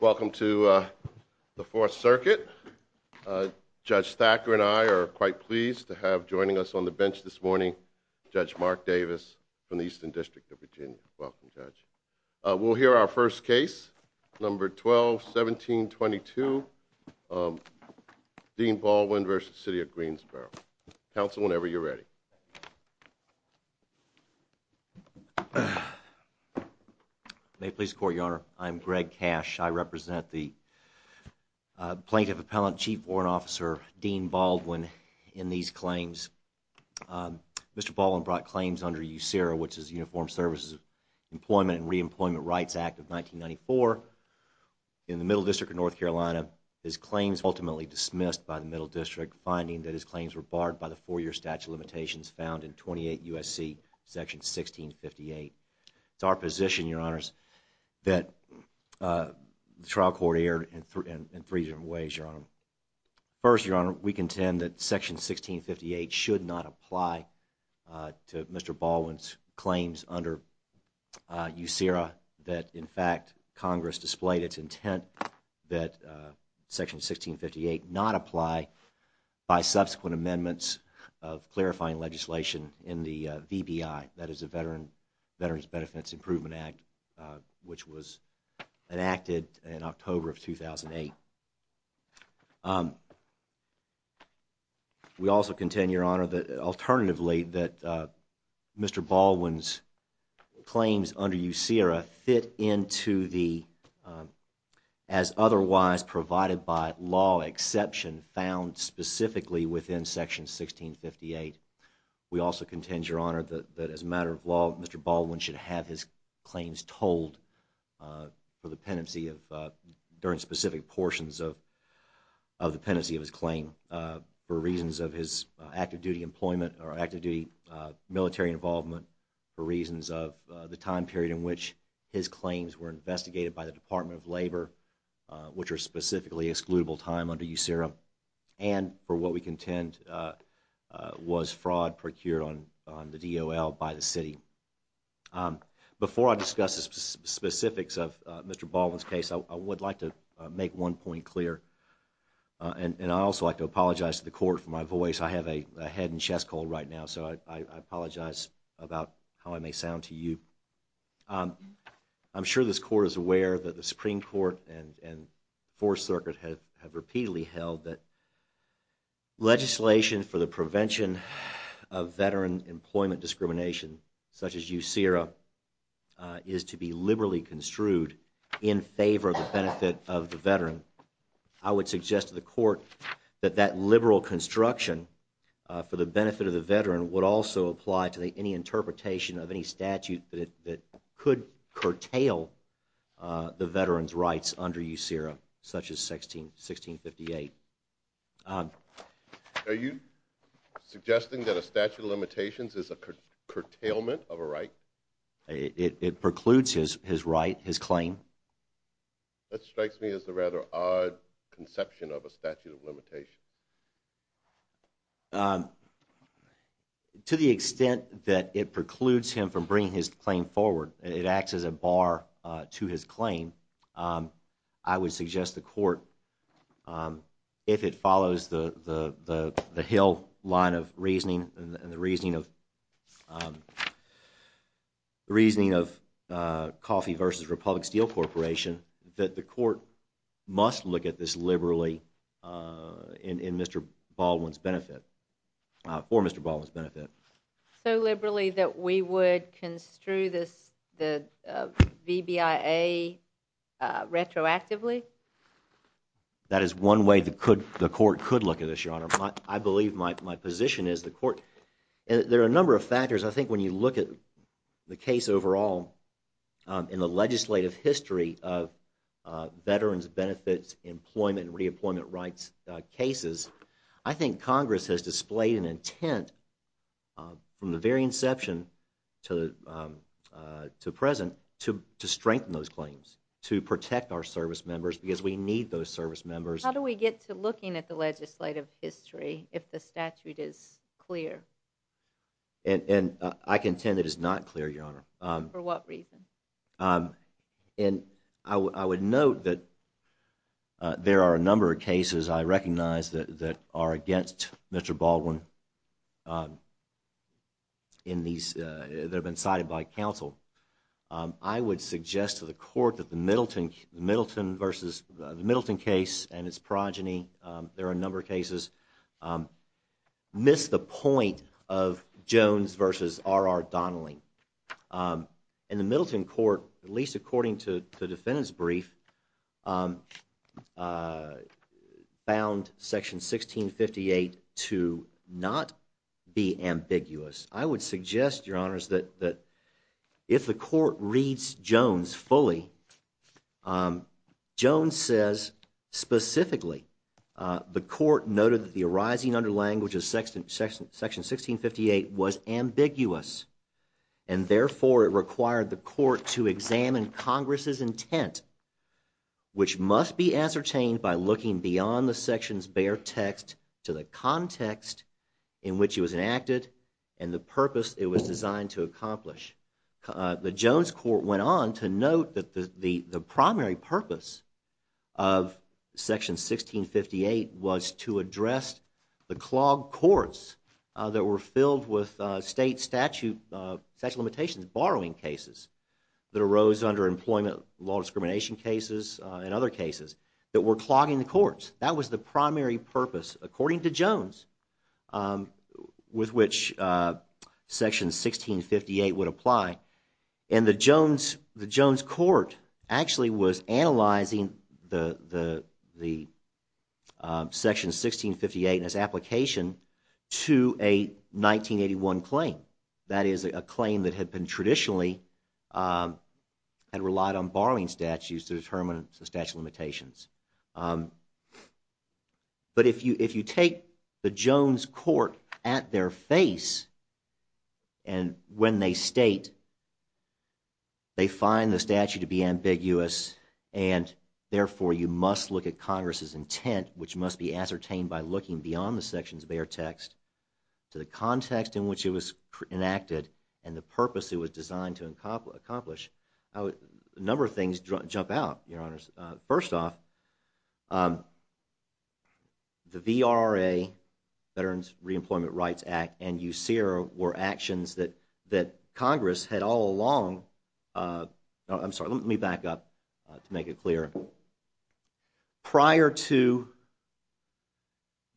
Welcome to the Fourth Circuit. Judge Thacker and I are quite pleased to have joining us on the bench this morning Judge Mark Davis from the Eastern District of Virginia. Welcome, Judge. We'll hear our first case, number 12-1722, Dean Baldwin v. City of Greensboro. Counsel whenever you're ready. May it please the Court, Your Honor. I'm Greg Cash. I represent the Plaintiff Appellant Chief Warrant Officer, Dean Baldwin, in these claims. Mr. Baldwin brought claims under USERRA, which is the Uniformed Services Employment and Reemployment Rights Act of 1994 in the Middle District of North Carolina. His claims were ultimately dismissed by the Middle District, finding that his claims were barred by the four-year statute of limitations found in 28 U.S.C. section 1658. It's our position, Your Honors, that the trial court erred in three different ways, Your Honor. First, Your Honor, we contend that section 1658 should not apply to Mr. Baldwin's claims under USERRA that, in fact, Congress displayed its intent that section 1658 not apply by the Veterans Benefits Improvement Act, which was enacted in October of 2008. We also contend, Your Honor, that alternatively that Mr. Baldwin's claims under USERRA fit into the, as otherwise provided by law, exception found specifically within section 1658. We also contend, Your Honor, that as a matter of law, Mr. Baldwin should have his claims told for the pendency of, during specific portions of the pendency of his claim for reasons of his active-duty employment or active-duty military involvement, for reasons of the time period in which his claims were investigated by the Department of Labor, which are specifically the excludable time under USERRA, and, for what we contend, was fraud procured on the DOL by the city. Before I discuss the specifics of Mr. Baldwin's case, I would like to make one point clear, and I also like to apologize to the Court for my voice. I have a head and chest cold right now, so I apologize about how I may sound to you. I'm sure this Court is aware that the Supreme Court and Fourth Circuit have repeatedly held that legislation for the prevention of veteran employment discrimination, such as USERRA, is to be liberally construed in favor of the benefit of the veteran. I would suggest to the Court that that liberal construction for the benefit of the veteran would also apply to any interpretation of any statute that could curtail the veteran's rights under USERRA, such as 1658. Are you suggesting that a statute of limitations is a curtailment of a right? It precludes his right, his claim. That strikes me as a rather odd conception of a statute of limitations. To the extent that it precludes him from bringing his claim forward, it acts as a bar to his claim, I would suggest to the Court, if it follows the Hill line of reasoning, and the reasoning of Coffee v. Republic Steel Corporation, that the Court must look at this liberally in Mr. Baldwin's benefit, for Mr. Baldwin's benefit. So liberally that we would construe the VBIA retroactively? That is one way the Court could look at this, Your Honor. I believe my position is the Court, there are a number of factors. I think when you look at the case overall in the legislative history of veterans' benefits, employment and re-employment rights cases, I think Congress has displayed an intent from the very inception to the present to strengthen those claims, to protect our service members, because we need those service members. How do we get to looking at the legislative history if the statute is clear? I contend it is not clear, Your Honor. For what reason? I would note that there are a number of cases I recognize that are against Mr. Baldwin, that have been cited by counsel. I would suggest to the Court that the Middleton case and its progeny, there are a number of cases, miss the point of Jones versus R.R. Donnelly. In the Middleton court, at least according to the defendant's brief, found section 1658 to not be ambiguous. I would suggest, Your Honors, that if the Court reads Jones fully, Jones says, specifically, the Court noted that the arising under language of section 1658 was ambiguous, and therefore it required the Court to examine Congress' intent, which must be ascertained by looking beyond the section's bare text to the context in which it was enacted and the purpose it was designed to accomplish. The Jones court went on to note that the primary purpose of section 1658 was to address the clogged courts that were filled with state statute limitations, borrowing cases, that arose under employment law discrimination cases and other cases, that were clogging the courts. That was the primary purpose, according to Jones, with which section 1658 would apply. And the Jones court actually was analyzing the section 1658 and its application to a 1981 claim. That is a claim that had traditionally relied on borrowing statutes to determine the statute of limitations. But if you take the Jones court at their face and when they state they find the statute to be ambiguous and therefore you must look at Congress' intent, which must be ascertained by looking beyond the section's bare text to the context in which it was enacted and the purpose it was designed to accomplish, a number of things jump out, Your Honors. First off, the VRA, Veterans Reemployment Rights Act, and USERA were actions that Congress had all along, I'm sorry, let me back up to make it clear. Prior to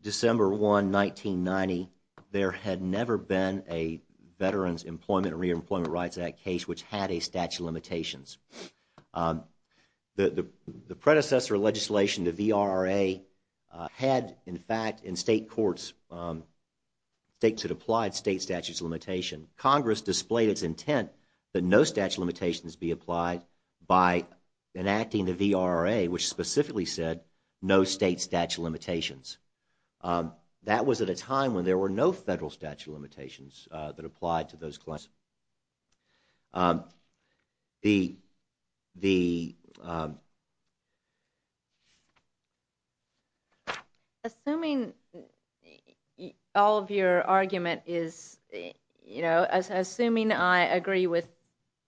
December 1, 1990, there had never been a Veterans Employment and Reemployment Rights Act case which had a statute of limitations. The predecessor legislation, the VRRA, had, in fact, in state courts, states had applied state statute of limitations. Congress displayed its intent that no statute of limitations be applied by enacting the VRRA, which specifically said no state statute of limitations. That was at a time when there were no federal statute of limitations that applied to those claims. The... Assuming all of your argument is, assuming I agree with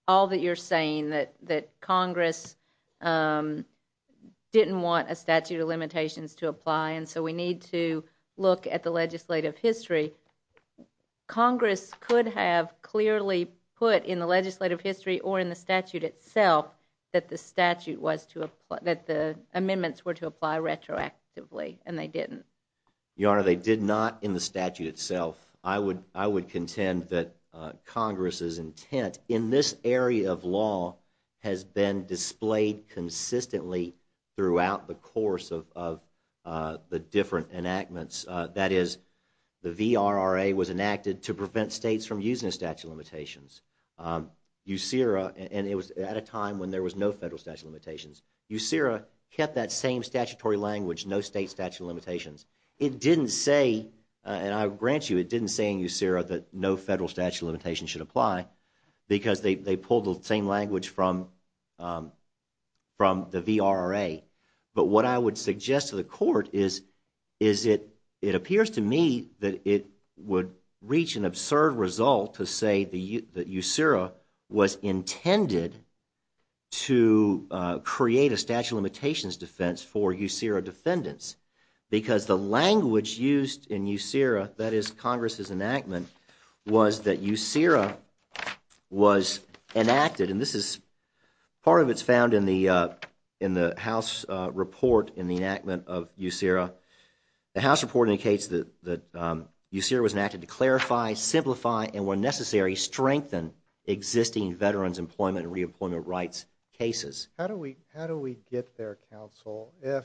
all that you're saying, that Congress didn't want a statute of limitations to apply, and so we need to look at the legislative history, Congress could have clearly put in the legislative history or in the statute itself that the amendments were to apply retroactively, and they didn't. Your Honor, they did not in the statute itself. I would contend that Congress's intent in this area of law has been displayed consistently throughout the course of the different enactments. That is, the VRRA was enacted to prevent states from using the statute of limitations. USERA, and it was at a time when there was no federal statute of limitations, USERA kept that same statutory language, no state statute of limitations. It didn't say, and I grant you, it didn't say in USERA that no federal statute of limitations should apply, because they pulled the same language from the VRRA. But what I would suggest to the Court is it appears to me that it would reach an absurd result to say that USERA was intended to create a statute of limitations defense for USERA defendants, because the language used in USERA, that is Congress's enactment, was that USERA was enacted, and this is, part of it is found in the House report in the enactment of USERA. The House report indicates that USERA was enacted to clarify, simplify, and where necessary, strengthen existing veterans employment and re-employment rights cases. How do we get there, Counsel, if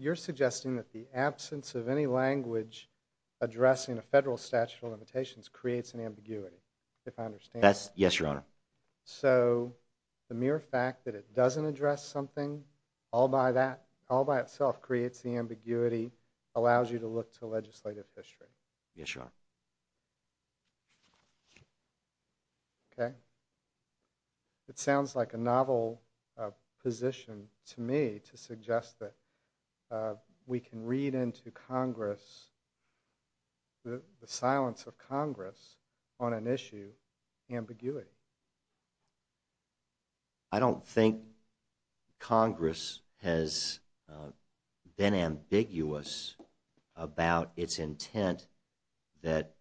you're suggesting that the absence of any language addressing a federal statute of limitations creates an ambiguity, if I understand? Yes, Your Honor. So, the mere fact that it doesn't address something, all by itself creates the ambiguity, allows you to look to legislative history? Yes, Your Honor. Okay. It sounds like a novel position to me to suggest that we can read into Congress, the silence of Congress on an issue, ambiguity. I don't think Congress has been ambiguous about its intent that USERA should be that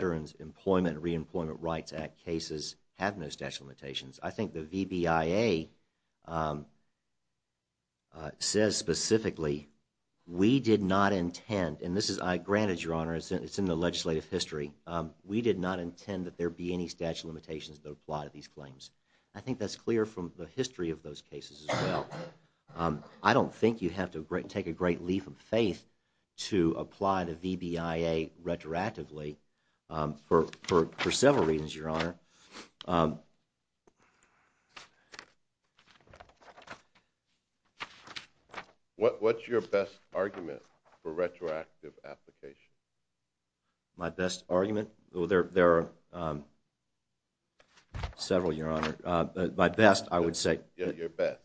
Veterans Employment and Re-employment Rights Act cases have no statute of limitations. I think the VBIA says specifically, we did not intend, and this is, granted, Your Honor, it's in the legislative history, we did not intend that there be any statute of limitations that apply to these claims. I think that's clear from the history of those cases as well. I don't think you have to take a great leaf of faith to apply the VBIA retroactively for several reasons, Your Honor. What's your best argument for retroactive application? My best argument? Well, there are several, Your Honor. My best, I would say... Your best.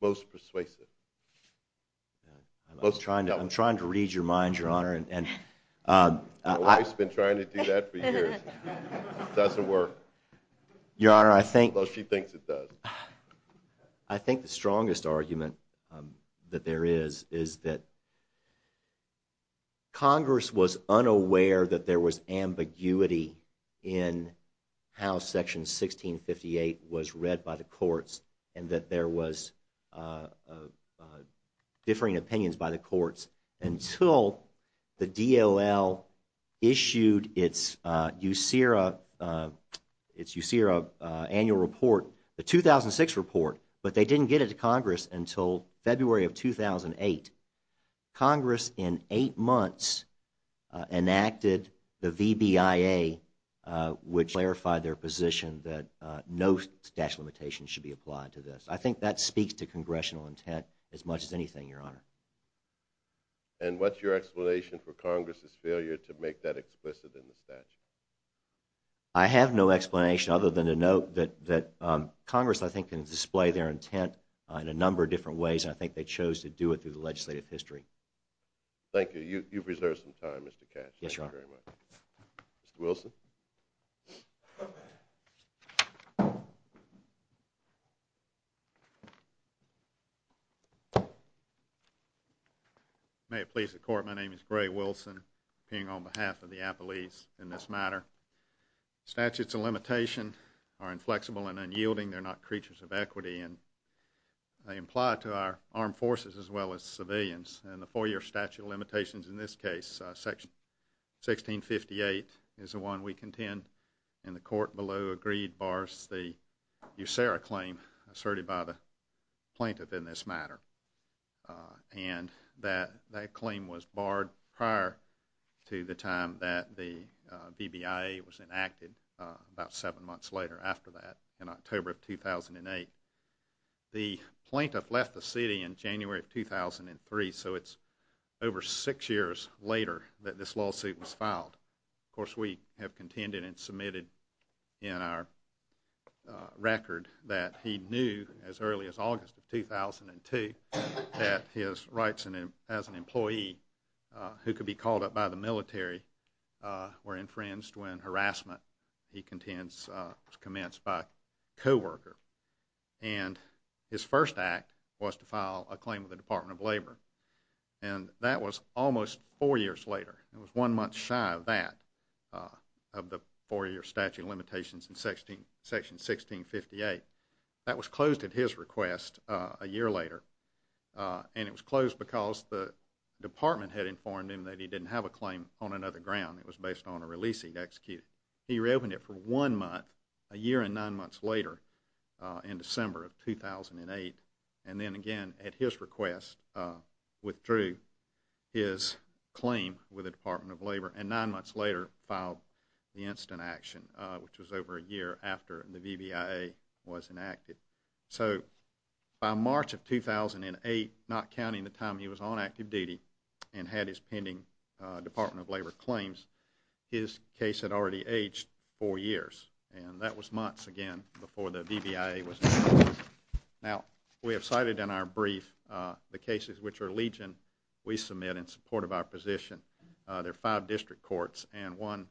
Most persuasive. I'm trying to read your mind, Your Honor. My wife's been trying to do that for years. It doesn't work. Your Honor, I think... Although she thinks it does. I think the strongest argument that there is, is that Section 1658 was read by the courts and that there was differing opinions by the courts until the DOL issued its USERA annual report, the 2006 report, but they didn't get it to Congress until February of 2008. Congress, in eight months, enacted the VBIA, which clarified their position that no statute of limitations should be applied to this. I think that speaks to Congressional intent as much as anything, Your Honor. And what's your explanation for Congress's failure to make that explicit in the statute? I have no explanation other than to note that Congress, I think, can display their intent in a number of different ways, and I think they chose to do it through the legislative history. Thank you. You've reserved some time, Mr. Cash. Yes, Your Honor. Thank you very much. Mr. Wilson? May it please the Court, my name is Gray Wilson, appearing on behalf of the Appellees in this matter. Statutes of limitation are inflexible and unyielding, they're not creatures of equity, and they apply to our armed forces as well as civilians. And the four-year statute of limitations in this case, section 1658, is the one we contend, and the Court below agreed, bars the USERRA claim asserted by the plaintiff in this matter. And that claim was barred prior to the time that the VBIA was enacted, about seven months later after that, in October of 2008. The plaintiff left the city in January of 2003, so it's over six years later that this lawsuit was filed. Of course, we have contended and submitted in our record that he knew, as early as August of 2002, that his rights as an employee, who could be called up by the military, were infringed when harassment, he contends, was commenced by a co-worker. And his first act was to file a claim with the Department of Labor, and that was almost four years later. It was one month shy of that, of the four-year statute of limitations in section 1658. That was closed at his request a year later, and it was closed because the Department had informed him that he didn't have a claim on another ground. It was based on a releasing to execute. He reopened it for one month, a year and nine months later, in December of 2008, and then again at his request withdrew his claim with the Department of Labor, and nine months later filed the instant action, which was over a year after the VBIA was enacted. So, by March of 2008, not counting the time he was on active duty, and had his pending Department of Labor claims, his case had already aged four years, and that was months, again, before the VBIA was enacted. Now, we have cited in our brief the cases which are legion we submit in support of our position. There are five district courts and one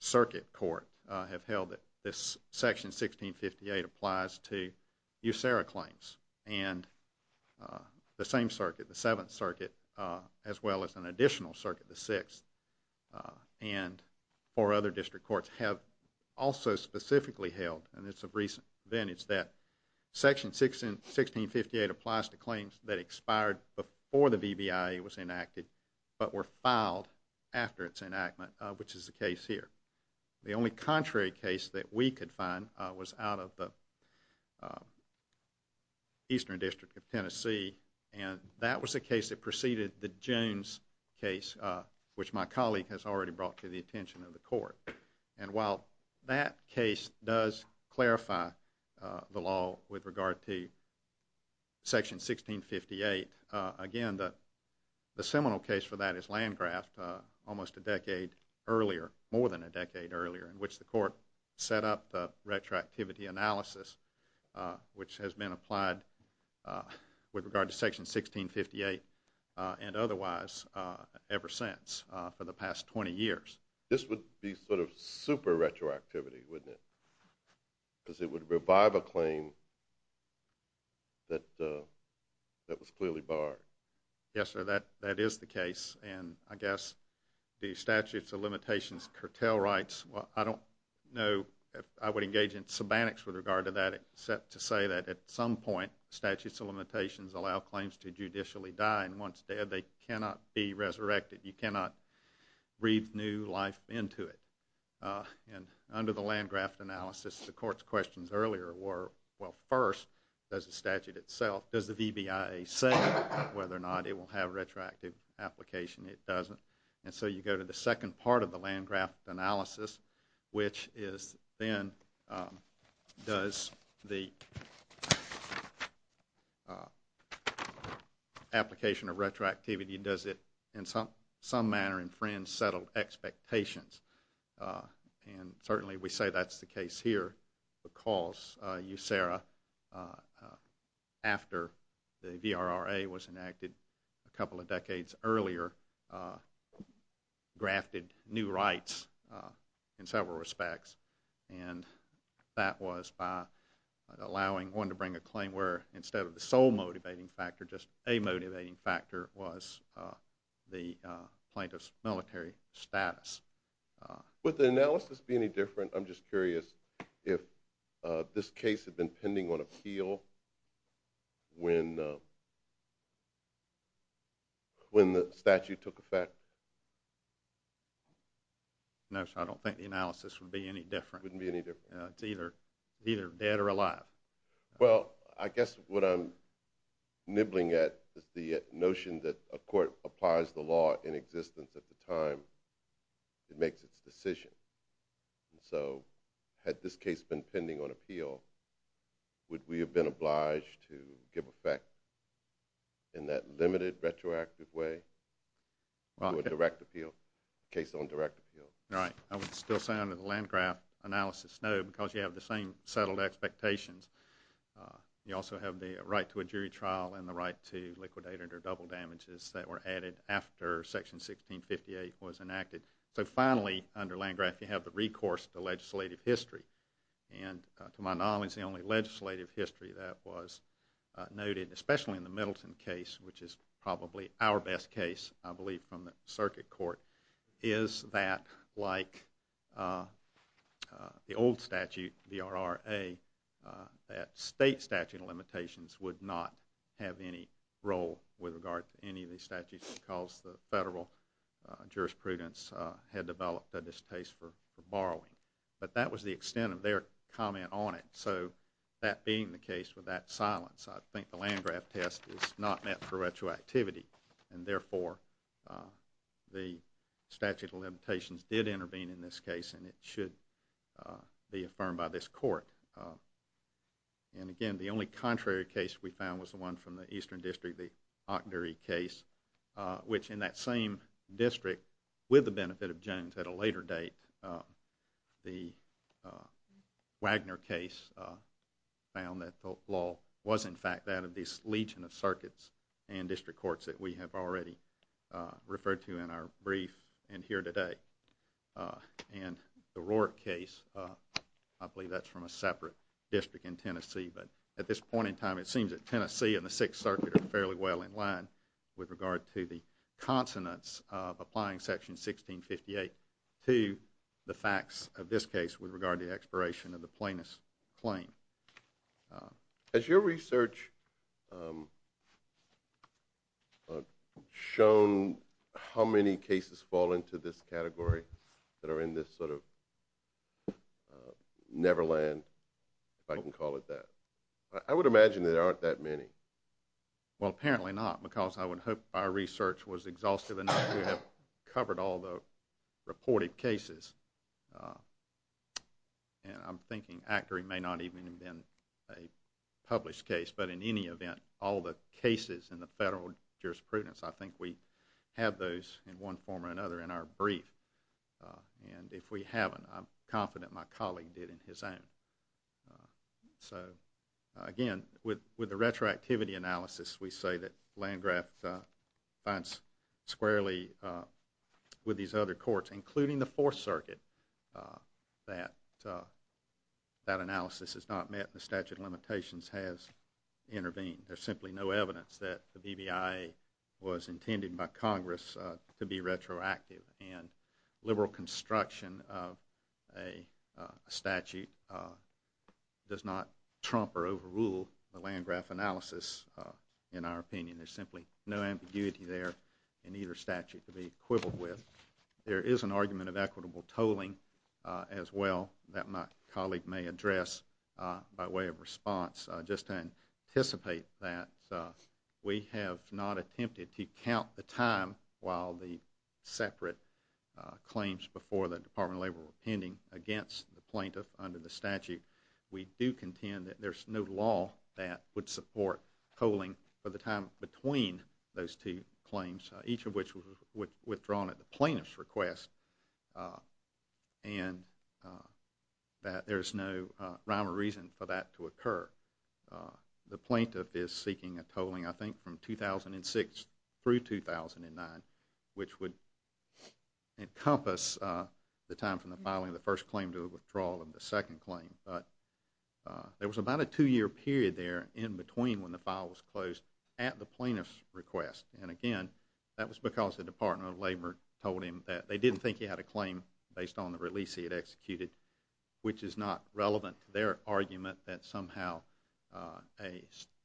circuit court have held that this section 1658 applies to USARA claims. And the same circuit, the seventh circuit, as well as an additional circuit, the sixth, and four other district courts have also specifically held, and it's of recent vintage, that section 1658 applies to claims that expired before the VBIA was enacted, but were filed after its enactment, which is the case here. The only contrary case that we could find was out of the Eastern District of Tennessee, and that was a case that preceded the Jones case, which my colleague has already brought to the attention of the court. And while that case does clarify the law with regard to section 1658, again, the seminal case for that is Landgraf, almost a decade earlier, more than a decade earlier, in which the court set up the retroactivity analysis, which has been applied with regard to section 1658 and otherwise ever since for the past 20 years. This would be sort of super retroactivity, wouldn't it? Because it would revive a claim that was clearly barred. Yes, sir, that is the case. And I guess the statutes of limitations curtail rights. Well, I don't know if I would engage in sabbatics with regard to that, except to say that at some point statutes of limitations allow claims to judicially die, and once dead, they cannot be resurrected. You cannot breathe new life into it. And under the Landgraf analysis, the court's questions earlier were, well, first, does the statute itself, does the VBIA say whether or not it will have retroactive application? It doesn't. And so you go to the second part of the Landgraf analysis, which is then does the application of retroactivity, does it in some manner infringe settled expectations? And certainly we say that's the case here because USERRA, after the VRRA was enacted a couple of decades earlier, grafted new rights in several respects, and that was by allowing one to bring a claim where instead of the sole motivating factor, just a motivating factor was the plaintiff's military status. Would the analysis be any different? I'm just curious if this case had been pending on appeal when the statute took effect. No, sir, I don't think the analysis would be any different. It wouldn't be any different. It's either dead or alive. Well, I guess what I'm nibbling at is the notion that a court applies the law in existence at the time it makes its decision. And so had this case been pending on appeal, would we have been obliged to give effect in that limited retroactive way to a direct appeal, case on direct appeal? Right. I would still say under the Landgraf analysis, no, because you have the same settled expectations. You also have the right to a jury trial and the right to liquidate under double damages that were added after Section 1658 was enacted. So finally, under Landgraf, you have the recourse to legislative history. And to my knowledge, the only legislative history that was noted, especially in the Middleton case, which is probably our best case, I believe from the circuit court, is that like the old statute, the RRA, that state statute of limitations would not have any role with regard to any of these statutes because the federal jurisprudence had developed at this case for borrowing. But that was the extent of their comment on it. So that being the case with that silence, I think the Landgraf test is not meant for retroactivity. And therefore, the statute of limitations did intervene in this case, and it should be affirmed by this court. And again, the only contrary case we found was the one from the Eastern District, the Octory case, which in that same district, with the benefit of Jones, at a later date the Wagner case found that the law was in fact that of these legion of circuits and district courts that we have already referred to in our brief and here today. And the Roark case, I believe that's from a separate district in Tennessee, but at this point in time it seems that Tennessee and the Sixth Circuit are fairly well in line with regard to the consonance of applying Section 1658 to the facts of this case with regard to the expiration of the plaintiff's claim. Has your research shown how many cases fall into this category that are in this sort of neverland, if I can call it that? I would imagine that there aren't that many. Well, apparently not, because I would hope our research was exhaustive enough to have covered all the reported cases. And I'm thinking Octory may not even have been a published case, but in any event, all the cases in the federal jurisprudence, I think we have those in one form or another in our brief. And if we haven't, I'm confident my colleague did in his own. So, again, with the retroactivity analysis, we say that Landgraf finds squarely with these other courts, including the Fourth Circuit, that that analysis is not met and the statute of limitations has intervened. There's simply no evidence that the BBI was intended by Congress to be retroactive, and liberal construction of a statute does not trump or overrule the Landgraf analysis, in our opinion. There's simply no ambiguity there in either statute to be quibbled with. There is an argument of equitable tolling as well that my colleague may address by way of response, just to anticipate that we have not attempted to count the time while the separate claims before the Department of Labor were pending against the plaintiff under the statute. We do contend that there's no law that would support tolling for the time between those two claims, each of which was withdrawn at the plaintiff's request, and that there's no rhyme or reason for that to occur. The plaintiff is seeking a tolling, I think, from 2006 through 2009, which would encompass the time from the filing of the first claim to a withdrawal and the second claim. But there was about a two-year period there in between when the file was closed at the plaintiff's request. And, again, that was because the Department of Labor told him that they didn't think he had a claim based on the release he had executed, which is not relevant to their argument that somehow a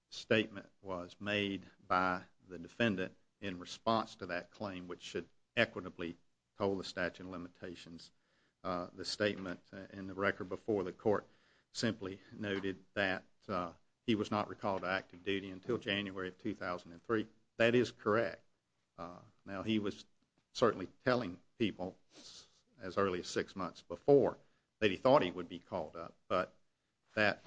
statement was made by the defendant in response to that claim which should equitably toll the statute of limitations. The statement in the record before the court simply noted that he was not recalled to active duty until January of 2003. That is correct. Now, he was certainly telling people as early as six months before that he thought he would be called up, but that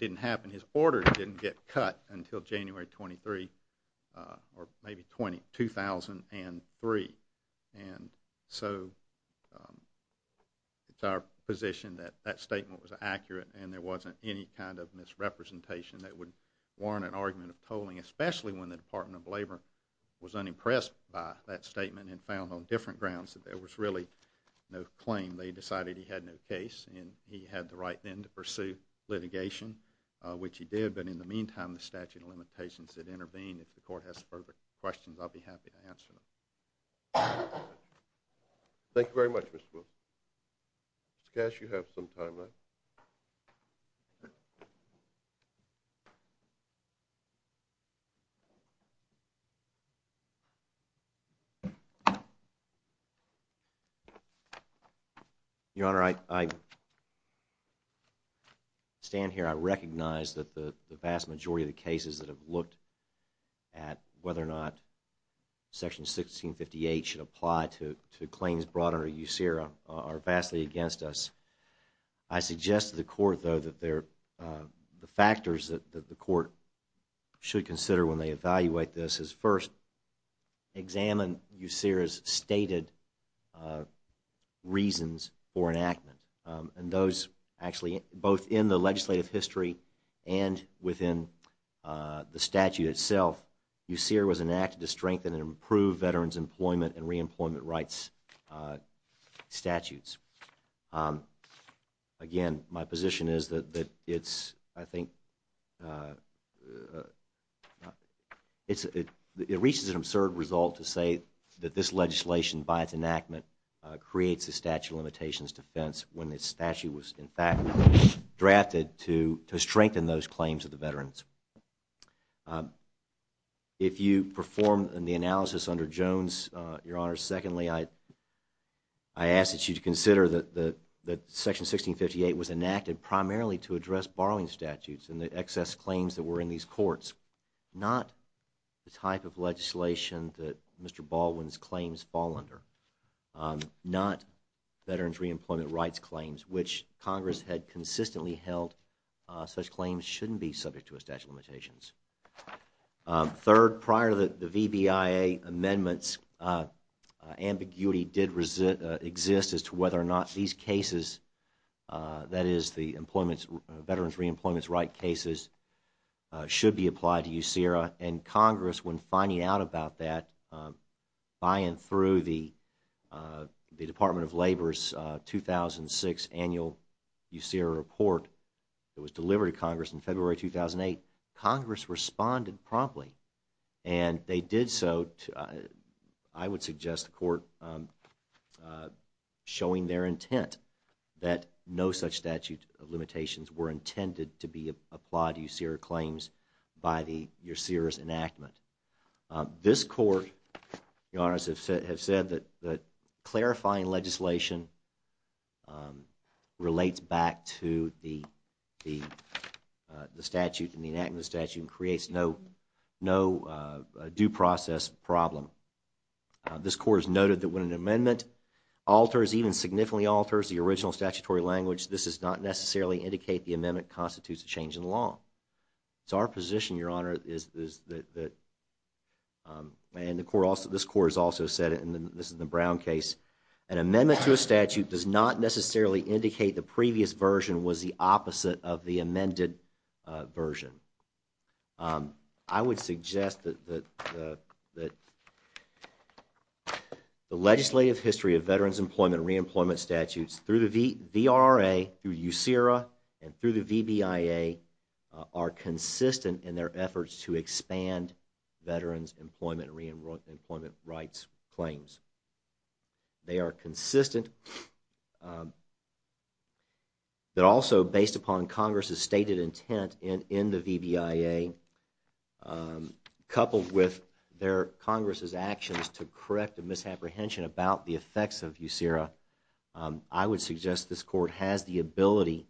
didn't happen. His order didn't get cut until January 23, or maybe 2003. And so it's our position that that statement was accurate and there wasn't any kind of misrepresentation that would warrant an argument of tolling, especially when the Department of Labor was unimpressed by that statement and found on different grounds that there was really no claim. They decided he had no case and he had the right then to pursue litigation, which he did. But in the meantime, the statute of limitations had intervened. If the court has further questions, I'll be happy to answer them. Thank you very much, Mr. Wilk. Mr. Cash, you have some time left. Your Honor, I stand here. I recognize that the vast majority of the cases that have looked at whether or not Section 1658 should apply to claims brought under USERRA are vastly against us. I suggest to the court, though, that the factors that the court should consider when they evaluate this is first examine USERRA's stated reasons for enactment. And those actually, both in the legislative history and within the statute itself, USERRA was enacted to strengthen and improve veterans' employment and reemployment rights statutes. Again, my position is that it's, I think, it reaches an absurd result to say that this legislation, by its enactment, creates a statute of limitations defense when the statute was, in fact, drafted to strengthen those claims of the veterans. If you perform the analysis under Jones, Your Honor, secondly, I ask that you consider that Section 1658 was enacted primarily to address borrowing statutes and the excess claims that were in these courts, not the type of legislation that Mr. Baldwin's claims fall under, not veterans' reemployment rights claims, which Congress had consistently held such claims shouldn't be subject to a statute of limitations. Third, prior to the VBIA amendments, ambiguity did exist as to whether or not these cases, that is, the veterans' reemployment rights cases, should be applied to USERRA. And Congress, when finding out about that, by and through the Department of Labor's 2006 annual USERRA report that was delivered to Congress in February 2008, Congress responded promptly. And they did so, I would suggest the Court showing their intent that no such statute of limitations were intended to be applied to USERRA claims by the USERRA's enactment. This Court, Your Honor, has said that clarifying legislation relates back to the statute and the enactment of the statute and creates no due process problem. This Court has noted that when an amendment alters, even significantly alters, the original statutory language, this does not necessarily indicate the amendment constitutes a change in the law. It's our position, Your Honor, is that, and this Court has also said, and this is the Brown case, an amendment to a statute does not necessarily indicate the previous version was the opposite of the amended version. I would suggest that the legislative history of veterans' employment and reemployment statutes through the VRA, through USERRA, and through the VBIA are consistent in their efforts to expand veterans' employment and reemployment rights claims. They are consistent, but also based upon Congress' stated intent in the VBIA, coupled with Congress' actions to correct a misapprehension about the effects of USERRA, I would suggest this Court has the ability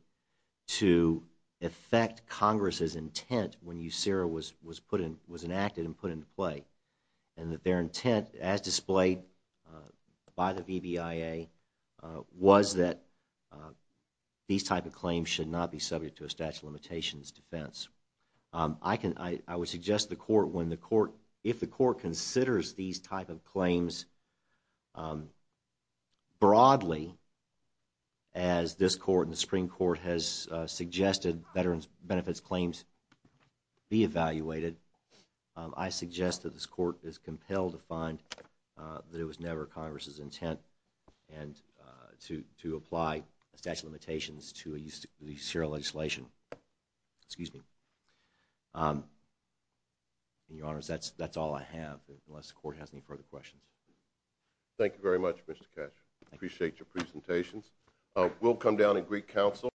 to affect Congress' intent when USERRA was enacted and put into play and that their intent, as displayed by the VBIA, was that these type of claims should not be subject to a statute of limitations defense. I would suggest the Court, if the Court considers these type of claims broadly, as this Court and the Supreme Court has suggested veterans' benefits claims be evaluated, I suggest that this Court is compelled to find that it was never Congress' intent to apply a statute of limitations to USERRA legislation. Excuse me. Your Honors, that's all I have, unless the Court has any further questions. Thank you very much, Mr. Cash. I appreciate your presentations. We'll come down at Greek Council.